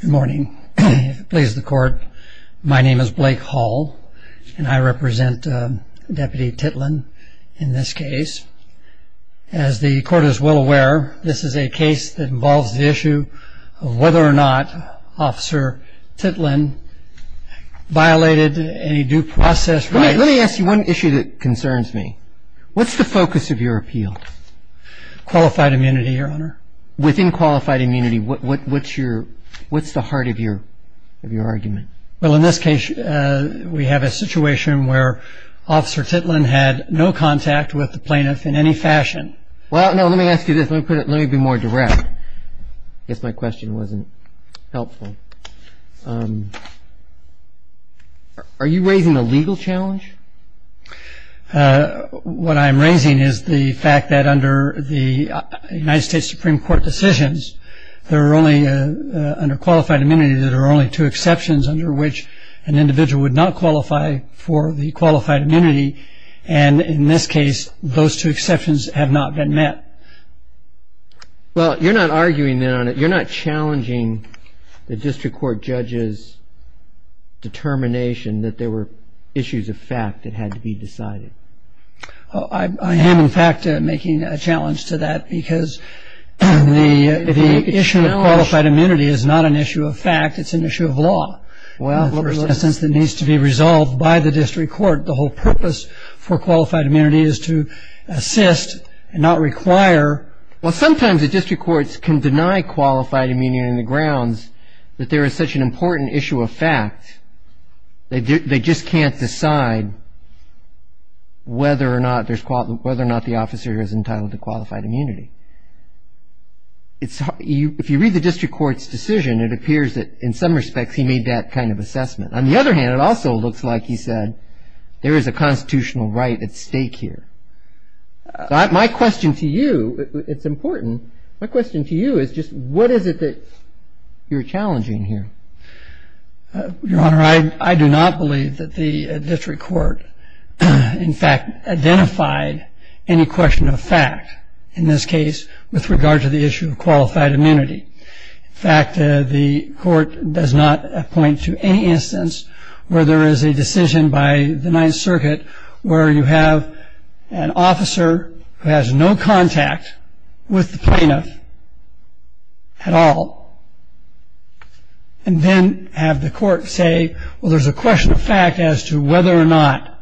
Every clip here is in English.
Good morning. Please the court. My name is Blake Hall, and I represent Deputy Titlin in this case. As the court is well aware, this is a case that involves the issue of whether or not Officer Titlin violated any due process rights. Let me ask you one issue that concerns me. What's the focus of your appeal? Qualified immunity, your honor. Within qualified immunity, what's the heart of your argument? Well, in this case, we have a situation where Officer Titlin had no contact with the plaintiff in any fashion. Well, no, let me ask you this. Let me be more direct. I guess my question wasn't helpful. Are you raising a legal challenge? What I'm raising is the fact that under the United States Supreme Court decisions, there are only under qualified immunity that are only two exceptions under which an individual would not qualify for the qualified immunity. And in this case, those two exceptions have not been met. Well, you're not arguing that on it. You're not challenging the district court judge's determination that there were issues of fact that had to be decided. I am, in fact, making a challenge to that because the issue of qualified immunity is not an issue of fact. It's an issue of law. In the first instance, it needs to be resolved by the district court. The whole purpose for qualified immunity is to assist and not require. Well, sometimes the district courts can deny qualified immunity on the grounds that there is such an important issue of fact. They just can't decide whether or not there's whether or not the officer is entitled to qualified immunity. If you read the district court's decision, it appears that in some respects he made that kind of assessment. On the other hand, it also looks like he said there is a constitutional right at stake here. My question to you, it's important. My question to you is just what is it that you're challenging here? Your Honor, I do not believe that the district court, in fact, identified any question of fact, in this case, with regard to the issue of qualified immunity. In fact, the court does not appoint to any instance where there is a decision by the Ninth Circuit where you have an officer who has no contact with the plaintiff at all, and then have the court say, well, there's a question of fact as to whether or not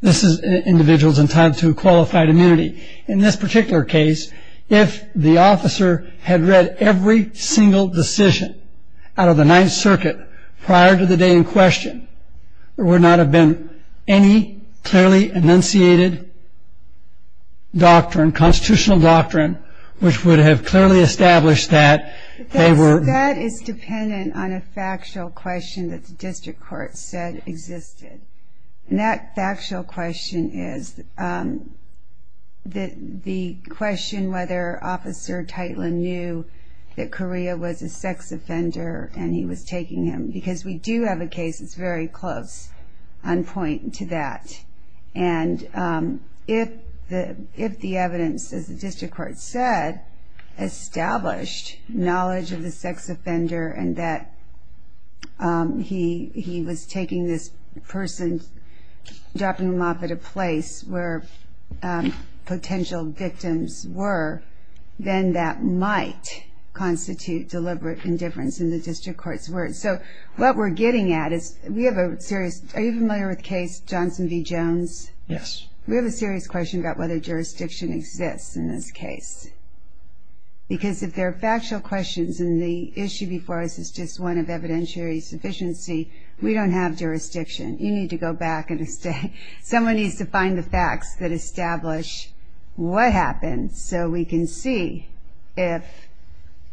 this individual is entitled to qualified immunity. In this particular case, if the officer had read every single decision out of the Ninth Circuit prior to the day in question, there would not have been any clearly enunciated doctrine, constitutional doctrine, which would have clearly established that they were. That is dependent on a factual question that the district court said existed. And that factual question is the question whether Officer Titland knew that Correa was a sex offender and he was taking him. Because we do have a case that's very close on point to that. And if the evidence, as the district court said, established knowledge of the sex offender and that he was taking this person, dropping them off at a place where potential victims were, then that might constitute deliberate indifference in the district court's words. So what we're getting at is we have a serious – are you familiar with the case Johnson v. Jones? Yes. We have a serious question about whether jurisdiction exists in this case. Because if there are factual questions and the issue before us is just one of evidentiary sufficiency, we don't have jurisdiction. You need to go back. Someone needs to find the facts that establish what happened so we can see if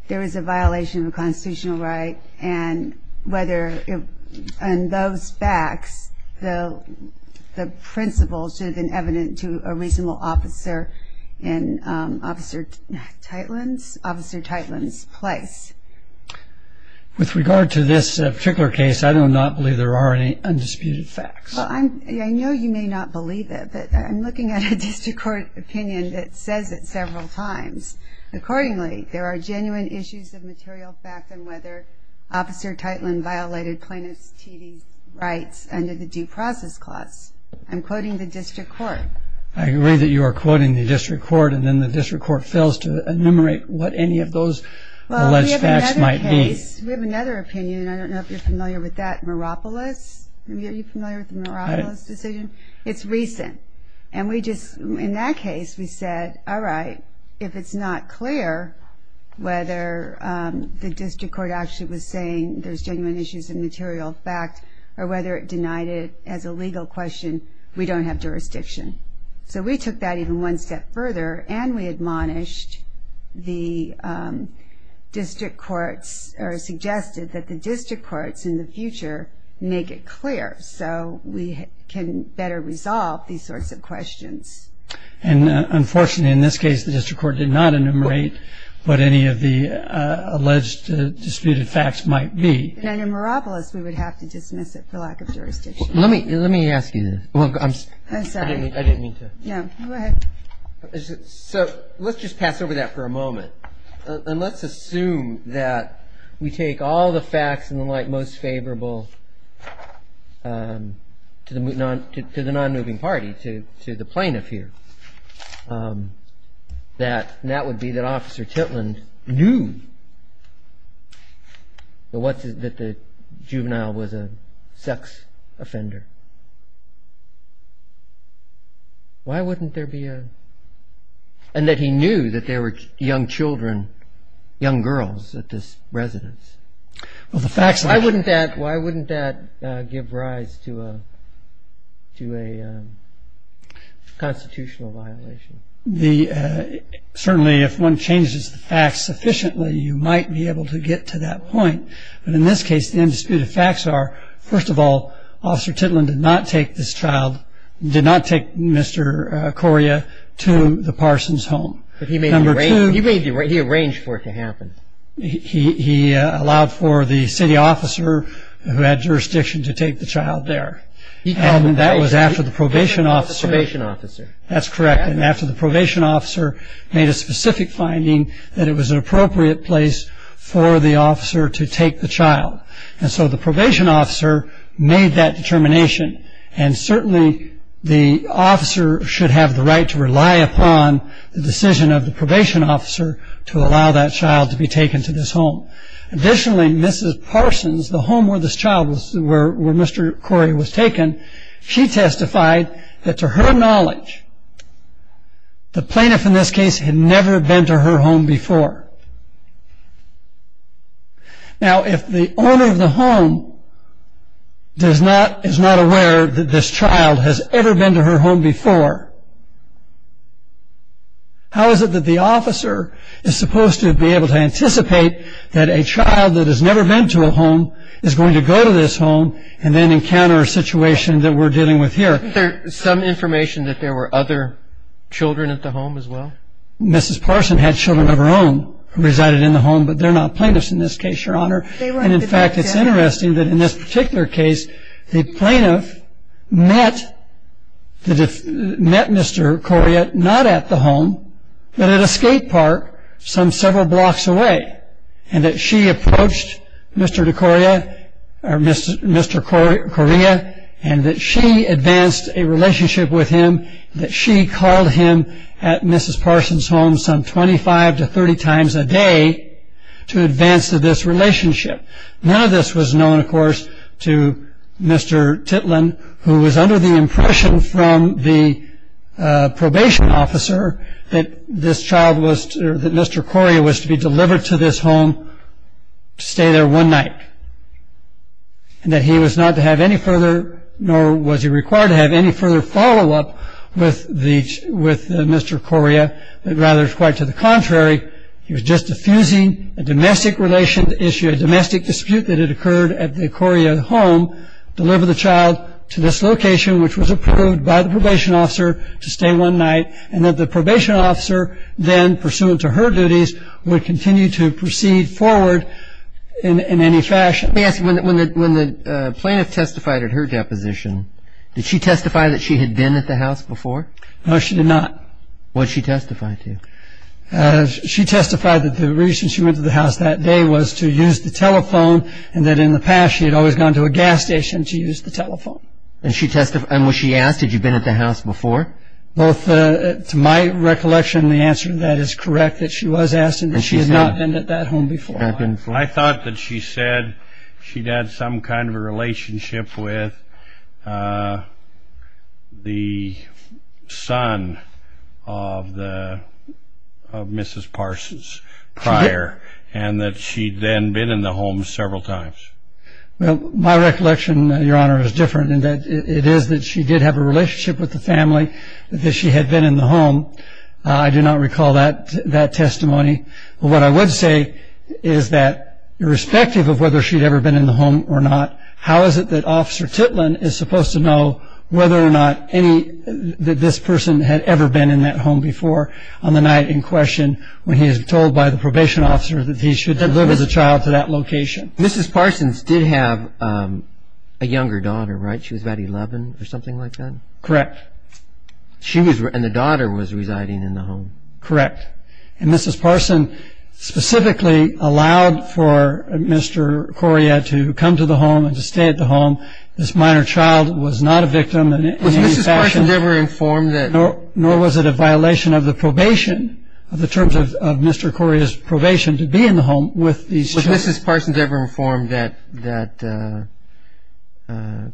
there is a violation of a constitutional right and whether in those facts the principle should have been evident to a reasonable officer in Officer Titland's place. With regard to this particular case, I do not believe there are any undisputed facts. Well, I know you may not believe it, but I'm looking at a district court opinion that says it several times. Accordingly, there are genuine issues of material fact on whether Officer Titland violated plaintiff's TV rights under the due process clause. I'm quoting the district court. I agree that you are quoting the district court, and then the district court fails to enumerate what any of those alleged facts might be. Well, we have another case. We have another opinion. I don't know if you're familiar with that. Meropolis? Are you familiar with the Meropolis decision? It's recent. In that case, we said, all right, if it's not clear whether the district court actually was saying there's genuine issues of material fact or whether it denied it as a legal question, we don't have jurisdiction. So we took that even one step further and we admonished the district courts or suggested that the district courts in the future make it clear so we can better resolve these sorts of questions. And unfortunately, in this case, the district court did not enumerate what any of the alleged disputed facts might be. And in Meropolis, we would have to dismiss it for lack of jurisdiction. Let me ask you this. I'm sorry. I didn't mean to. Yeah, go ahead. So let's just pass over that for a moment. And let's assume that we take all the facts in the light most favorable to the non-moving party, to the plaintiff here, and that would be that Officer Titland knew that the juvenile was a sex offender. Why wouldn't there be a – and that he knew that there were young children, young girls at this residence. Why wouldn't that give rise to a constitutional violation? Certainly, if one changes the facts sufficiently, you might be able to get to that point. But in this case, the undisputed facts are, first of all, Officer Titland did not take this child – did not take Mr. Coria to the Parsons' home. Number two. He made the – he arranged for it to happen. He allowed for the city officer who had jurisdiction to take the child there. And that was after the probation officer. He called the probation officer. That's correct. And after the probation officer made a specific finding that it was an appropriate place for the officer to take the child. And so the probation officer made that determination. And certainly the officer should have the right to rely upon the decision of the probation officer to allow that child to be taken to this home. Additionally, Mrs. Parsons, the home where this child was – where Mr. Coria was taken, she testified that to her knowledge, the plaintiff in this case had never been to her home before. Now, if the owner of the home does not – is not aware that this child has ever been to her home before, how is it that the officer is supposed to be able to anticipate that a child that has never been to a home is going to go to this home and then encounter a situation that we're dealing with here? Isn't there some information that there were other children at the home as well? Mrs. Parsons had children of her own who resided in the home, but they're not plaintiffs in this case, Your Honor. And in fact, it's interesting that in this particular case, the plaintiff met Mr. Coria not at the home, but at a skate park some several blocks away. And that she approached Mr. Coria and that she advanced a relationship with him, that she called him at Mrs. Parsons' home some 25 to 30 times a day to advance this relationship. None of this was known, of course, to Mr. Titland, who was under the impression from the probation officer that Mr. Coria was to be delivered to this home to stay there one night. And that he was not to have any further, nor was he required to have any further follow-up with Mr. Coria, but rather quite to the contrary, he was just diffusing a domestic relationship issue, a domestic dispute that had occurred at the Coria home, deliver the child to this location, which was approved by the probation officer, to stay one night, and that the probation officer then, pursuant to her duties, would continue to proceed forward in any fashion. Let me ask you, when the plaintiff testified at her deposition, did she testify that she had been at the house before? No, she did not. What did she testify to? She testified that the reason she went to the house that day was to use the telephone and that in the past she had always gone to a gas station to use the telephone. And when she asked, had you been at the house before? To my recollection, the answer to that is correct, that she was asking that she had not been at that home before. I thought that she said she'd had some kind of a relationship with the son of Mrs. Parsons prior, and that she'd then been in the home several times. Well, my recollection, Your Honor, is different, in that it is that she did have a relationship with the family, that she had been in the home. I do not recall that testimony. But what I would say is that, irrespective of whether she'd ever been in the home or not, how is it that Officer Titlin is supposed to know whether or not this person had ever been in that home before on the night in question when he is told by the probation officer that he should deliver the child to that location? Mrs. Parsons did have a younger daughter, right? She was about 11 or something like that? Correct. And the daughter was residing in the home? Correct. And Mrs. Parsons specifically allowed for Mr. Correa to come to the home and to stay at the home. This minor child was not a victim in any fashion. Was Mrs. Parsons ever informed that? Nor was it a violation of the probation, of the terms of Mr. Correa's probation to be in the home with these children. Was Mrs. Parsons ever informed that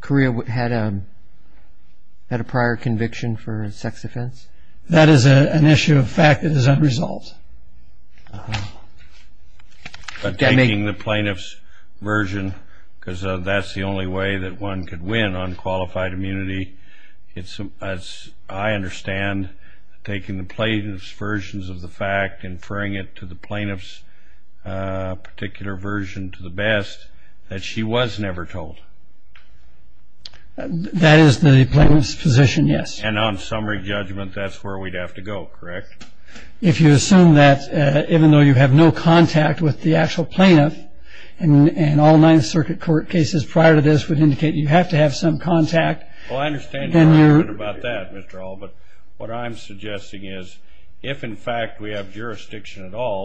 Correa had a prior conviction for a sex offense? That is an issue of fact that is unresolved. But taking the plaintiff's version, because that's the only way that one could win on qualified immunity, as I understand, taking the plaintiff's versions of the fact, inferring it to the plaintiff's particular version to the best, that she was never told? That is the plaintiff's position, yes. And on summary judgment, that's where we'd have to go, correct? If you assume that, even though you have no contact with the actual plaintiff, and all Ninth Circuit court cases prior to this would indicate you have to have some contact, then you're-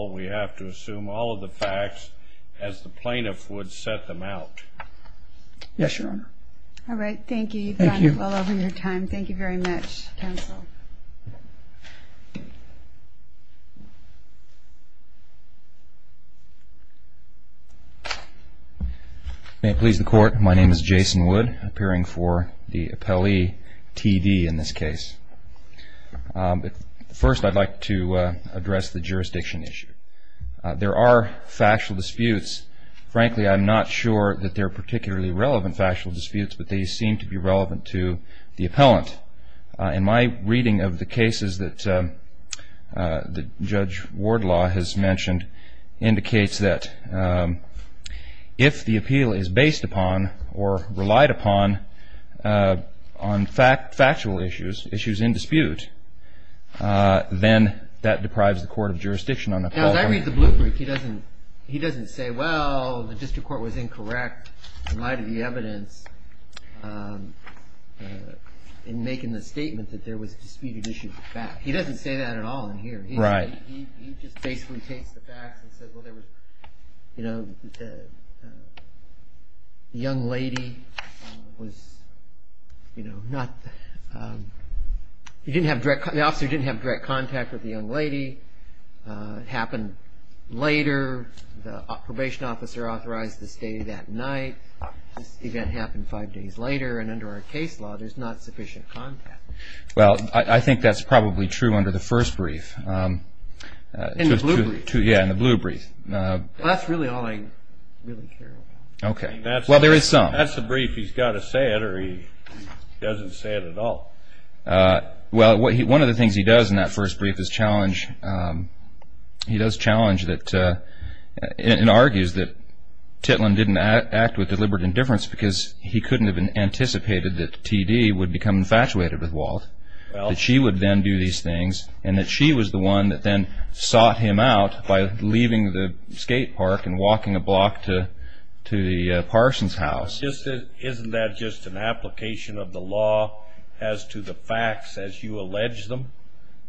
we have to assume all of the facts as the plaintiff would set them out. Yes, Your Honor. All right, thank you. Thank you. You've gone well over your time. Thank you very much, counsel. May it please the Court, my name is Jason Wood, appearing for the appellee, T.D. in this case. First, I'd like to address the jurisdiction issue. There are factual disputes. Frankly, I'm not sure that they're particularly relevant factual disputes, but they seem to be relevant to the appellant. In my reading of the cases that Judge Wardlaw has mentioned, indicates that if the appeal is based upon or relied upon on factual issues, issues in dispute, then that deprives the court of jurisdiction on the- Now, as I read the blueprint, he doesn't say, well, the district court was incorrect in light of the evidence in making the statement that there was disputed issues of fact. He doesn't say that at all in here. Right. He just basically takes the facts and says, well, there was, you know, the young lady was, you know, not- he didn't have direct-the officer didn't have direct contact with the young lady. It happened later. The probation officer authorized the stay that night. This event happened five days later, and under our case law, there's not sufficient contact. Well, I think that's probably true under the first brief. In the blue brief? Yeah, in the blue brief. Well, that's really all I really care about. Okay. Well, there is some. That's the brief. He's got to say it or he doesn't say it at all. Well, one of the things he does in that first brief is challenge-he does challenge that-and argues that Titlin didn't act with deliberate indifference because he couldn't have anticipated that T.D. would become infatuated with Walt, that she would then do these things, and that she was the one that then sought him out by leaving the skate park and walking a block to the Parsons' house. Isn't that just an application of the law as to the facts as you allege them?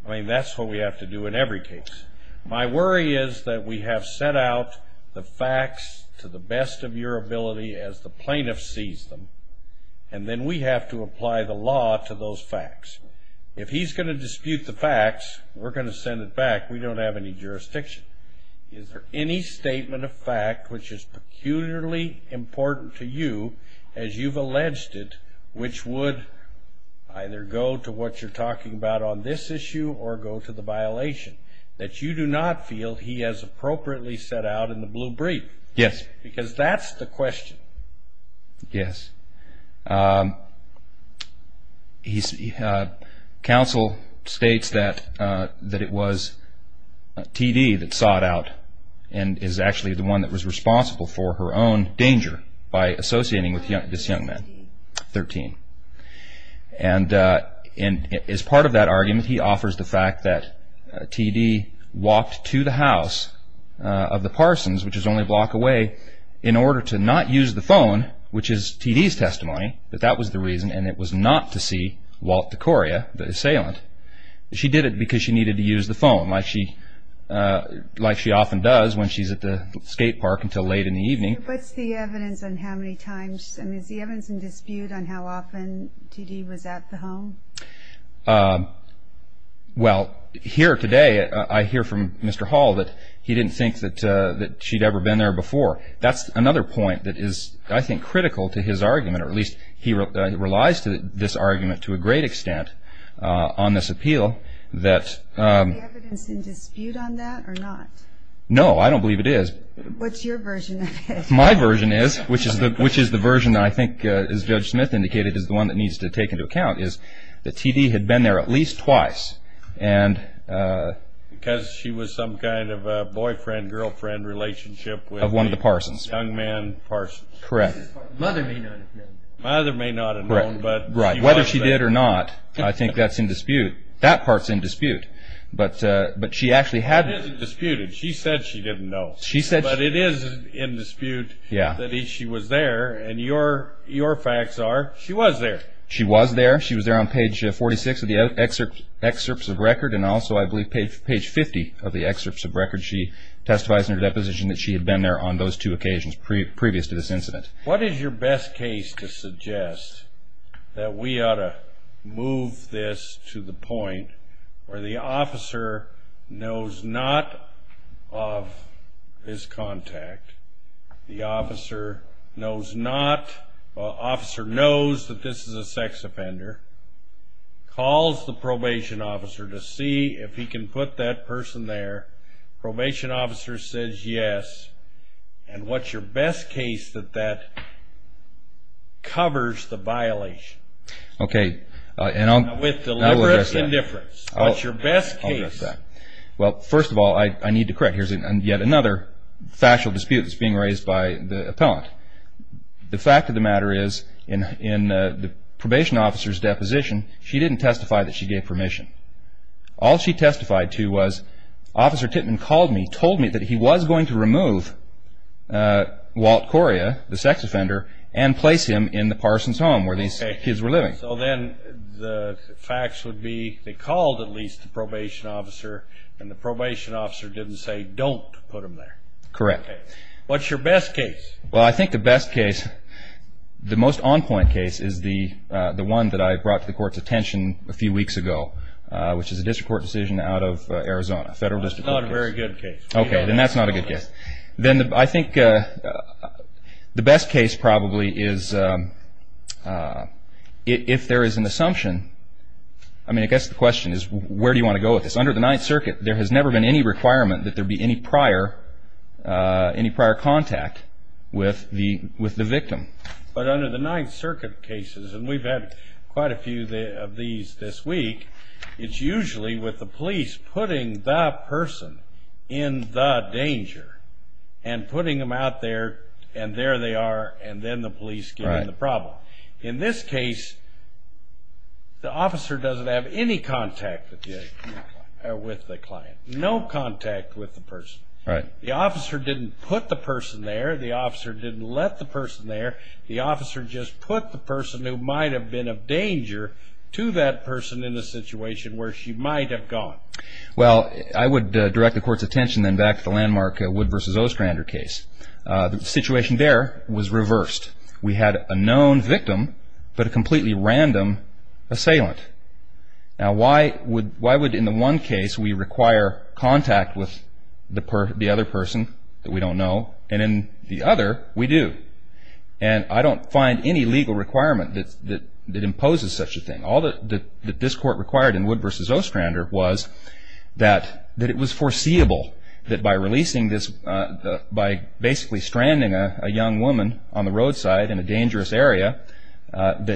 I mean, that's what we have to do in every case. My worry is that we have set out the facts to the best of your ability as the plaintiff sees them, and then we have to apply the law to those facts. If he's going to dispute the facts, we're going to send it back. We don't have any jurisdiction. Is there any statement of fact which is peculiarly important to you, as you've alleged it, which would either go to what you're talking about on this issue or go to the violation, that you do not feel he has appropriately set out in the blue brief? Yes. Because that's the question. Yes. Counsel states that it was T.D. that sought out and is actually the one that was responsible for her own danger by associating with this young man, 13. And as part of that argument, he offers the fact that T.D. walked to the house of the Parsons, which is only a block away, in order to not use the phone, which is T.D.'s testimony, that that was the reason, and it was not to see Walt DeCoria, the assailant. She did it because she needed to use the phone, like she often does when she's at the skate park until late in the evening. What's the evidence on how many times? I mean, is the evidence in dispute on how often T.D. was at the home? Well, here today, I hear from Mr. Hall that he didn't think that she'd ever been there before. That's another point that is, I think, critical to his argument, or at least he relies to this argument to a great extent on this appeal. Is the evidence in dispute on that or not? No, I don't believe it is. What's your version of it? My version is, which is the version that I think, as Judge Smith indicated, is the one that needs to take into account, is that T.D. had been there at least twice. Because she was some kind of a boyfriend-girlfriend relationship with a young man, Parsons. Correct. Mother may not have known. Mother may not have known, but she was there. Whether she did or not, I think that's in dispute. That part's in dispute, but she actually had... It isn't disputed. She said she didn't know. But it is in dispute that she was there. And your facts are, she was there. She was there. She was there on page 46 of the excerpts of record, and also, I believe, page 50 of the excerpts of record. She testifies in her deposition that she had been there on those two occasions, previous to this incident. What is your best case to suggest that we ought to move this to the point where the officer knows not of this contact, the officer knows not, the officer knows that this is a sex offender, calls the probation officer to see if he can put that person there. Probation officer says yes. And what's your best case that that covers the violation? Okay. With deliberate indifference, what's your best case? Well, first of all, I need to correct. Here's yet another factual dispute that's being raised by the appellant. The fact of the matter is, in the probation officer's deposition, she didn't testify that she gave permission. All she testified to was, Officer Tittman called me, told me that he was going to remove Walt Correa, the sex offender, and place him in the Parsons' home where these kids were living. So then the facts would be they called, at least, the probation officer, and the probation officer didn't say don't put him there. Correct. What's your best case? Well, I think the best case, the most on-point case, is the one that I brought to the Court's attention a few weeks ago, which is a district court decision out of Arizona, a federal district court case. That's not a very good case. Okay. Then that's not a good case. Then I think the best case probably is if there is an assumption. I mean, I guess the question is where do you want to go with this? Under the Ninth Circuit, there has never been any requirement that there be any prior contact with the victim. But under the Ninth Circuit cases, and we've had quite a few of these this week, it's usually with the police putting the person in the danger and putting them out there, and there they are, and then the police get in the problem. In this case, the officer doesn't have any contact with the client, no contact with the person. The officer didn't put the person there. The officer didn't let the person there. The officer just put the person who might have been a danger to that person in a situation where she might have gone. Well, I would direct the Court's attention then back to the landmark Wood v. Ostrander case. The situation there was reversed. We had a known victim but a completely random assailant. Now, why would in the one case we require contact with the other person that we don't know, and in the other we do? And I don't find any legal requirement that imposes such a thing. All that this Court required in Wood v. Ostrander was that it was foreseeable that by releasing this, by basically stranding a young woman on the roadside in a dangerous area, that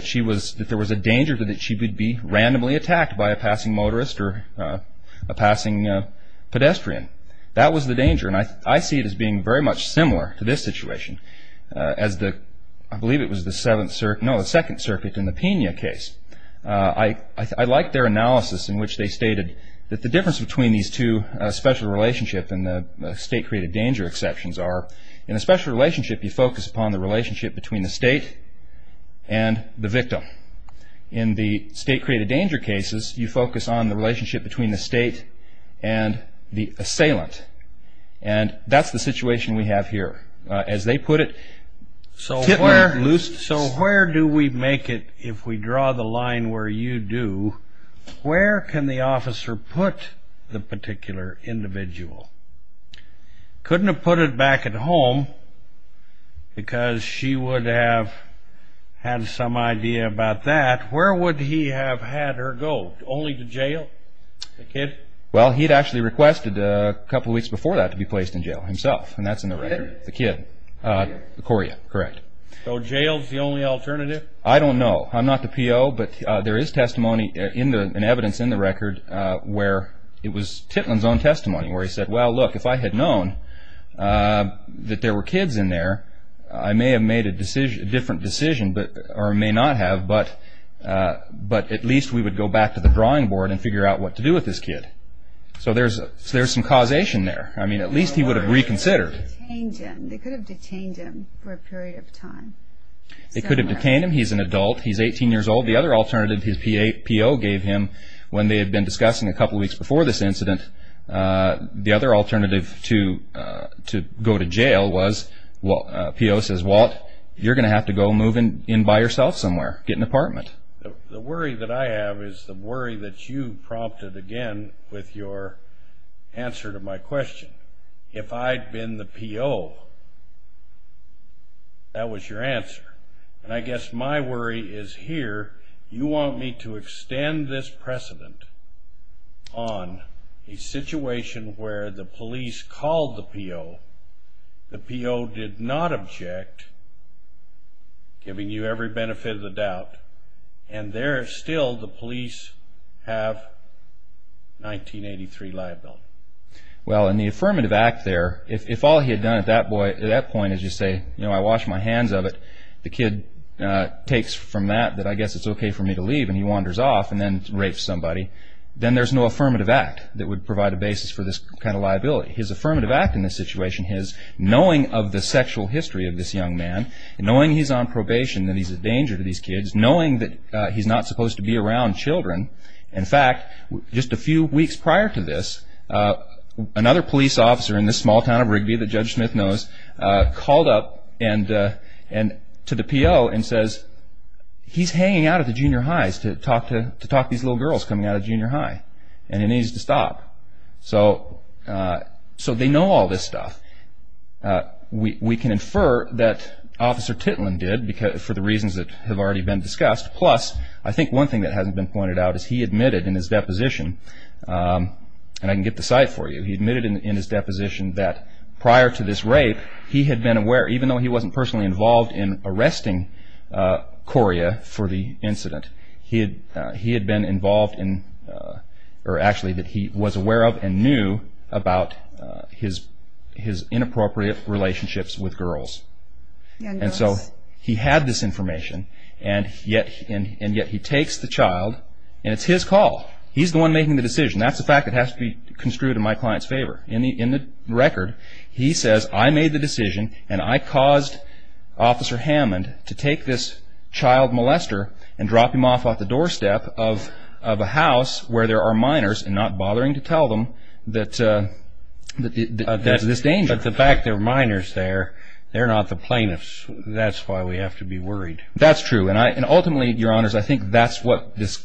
there was a danger that she would be randomly attacked by a passing motorist or a passing pedestrian. That was the danger, and I see it as being very much similar to this situation. I believe it was the Second Circuit in the Pena case. I like their analysis in which they stated that the difference between these two special relationships and the state-created danger exceptions are, in a special relationship you focus upon the relationship between the state and the victim. In the state-created danger cases, you focus on the relationship between the state and the assailant. And that's the situation we have here. As they put it... So where do we make it if we draw the line where you do? Where can the officer put the particular individual? Couldn't have put it back at home because she would have had some idea about that. Where would he have had her go? Only to jail? The kid? Well, he'd actually requested a couple of weeks before that to be placed in jail himself, and that's in the record. The kid? The kid. Coria, correct. So jail's the only alternative? I don't know. I'm not the PO, but there is testimony and evidence in the record where it was Titland's own testimony where he said, well, look, if I had known that there were kids in there, I may have made a different decision, or may not have, but at least we would go back to the drawing board and figure out what to do with this kid. So there's some causation there. I mean, at least he would have reconsidered. They could have detained him for a period of time. They could have detained him. He's an adult. He's 18 years old. The other alternative his PO gave him when they had been discussing a couple of weeks before this incident, the other alternative to go to jail was PO says, Walt, you're going to have to go move in by yourself somewhere, get an apartment. The worry that I have is the worry that you prompted again with your answer to my question. If I'd been the PO, that was your answer. And I guess my worry is here, you want me to extend this precedent on a situation where the police called the PO, the PO did not object, giving you every benefit of the doubt, and there still the police have 1983 liability. Well, in the affirmative act there, if all he had done at that point is just say, you know, I wash my hands of it, the kid takes from that that I guess it's okay for me to leave, and he wanders off and then rapes somebody, then there's no affirmative act that would provide a basis for this kind of liability. His affirmative act in this situation is knowing of the sexual history of this young man, knowing he's on probation, that he's a danger to these kids, knowing that he's not supposed to be around children. In fact, just a few weeks prior to this, another police officer in this small town of Rigby that Judge Smith knows called up to the PO and says, he's hanging out at the junior highs to talk to these little girls coming out of junior high, and he needs to stop. So they know all this stuff. We can infer that Officer Titlin did for the reasons that have already been discussed, plus I think one thing that hasn't been pointed out is he admitted in his deposition, and I can get the site for you, he admitted in his deposition that prior to this rape, he had been aware, even though he wasn't personally involved in arresting Coria for the incident, he had been involved in, or actually that he was aware of and knew about his inappropriate relationships with girls. And so he had this information, and yet he takes the child, and it's his call. He's the one making the decision. That's the fact that has to be construed in my client's favor. In the record, he says, I made the decision, and I caused Officer Hammond to take this child molester and drop him off at the doorstep of a house where there are minors, and not bothering to tell them that there's this danger. But the fact there are minors there, they're not the plaintiffs. That's why we have to be worried. That's true. And ultimately, Your Honors, I think that's what this,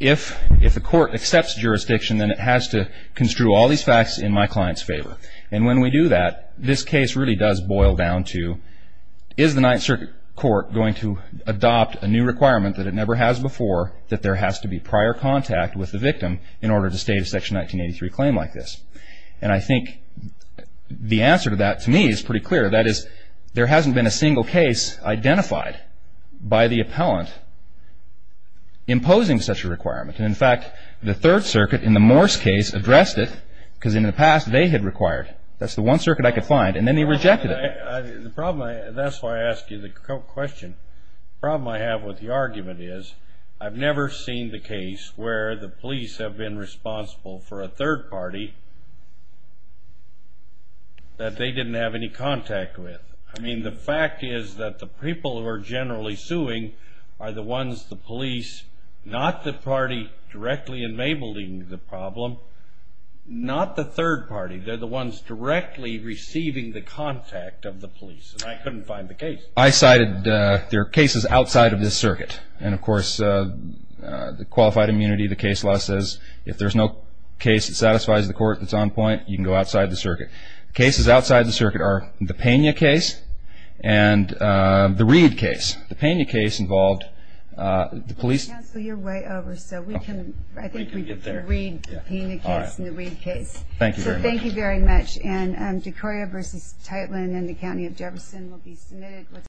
if the court accepts jurisdiction, then it has to construe all these facts in my client's favor. And when we do that, this case really does boil down to, is the Ninth Circuit Court going to adopt a new requirement that it never has before, that there has to be prior contact with the victim in order to state a Section 1983 claim like this? And I think the answer to that, to me, is pretty clear. That is, there hasn't been a single case identified by the appellant imposing such a requirement. And, in fact, the Third Circuit, in the Morse case, addressed it, because in the past they had required. That's the one circuit I could find. And then they rejected it. The problem, that's why I asked you the question. The problem I have with the argument is, I've never seen the case where the police have been responsible for a third party that they didn't have any contact with. I mean, the fact is that the people who are generally suing are the ones, the police, not the party directly enabling the problem, not the third party. They're the ones directly receiving the contact of the police. And I couldn't find the case. I cited, there are cases outside of this circuit. And, of course, the qualified immunity, the case law says, if there's no case that satisfies the court that's on point, you can go outside the circuit. Cases outside the circuit are the Pena case and the Reed case. The Pena case involved the police. Counsel, you're way over, so we can, I think we can read the Pena case and the Reed case. Thank you very much. So thank you very much. And DeCoria v. Tightland and the County of Jefferson will be submitted.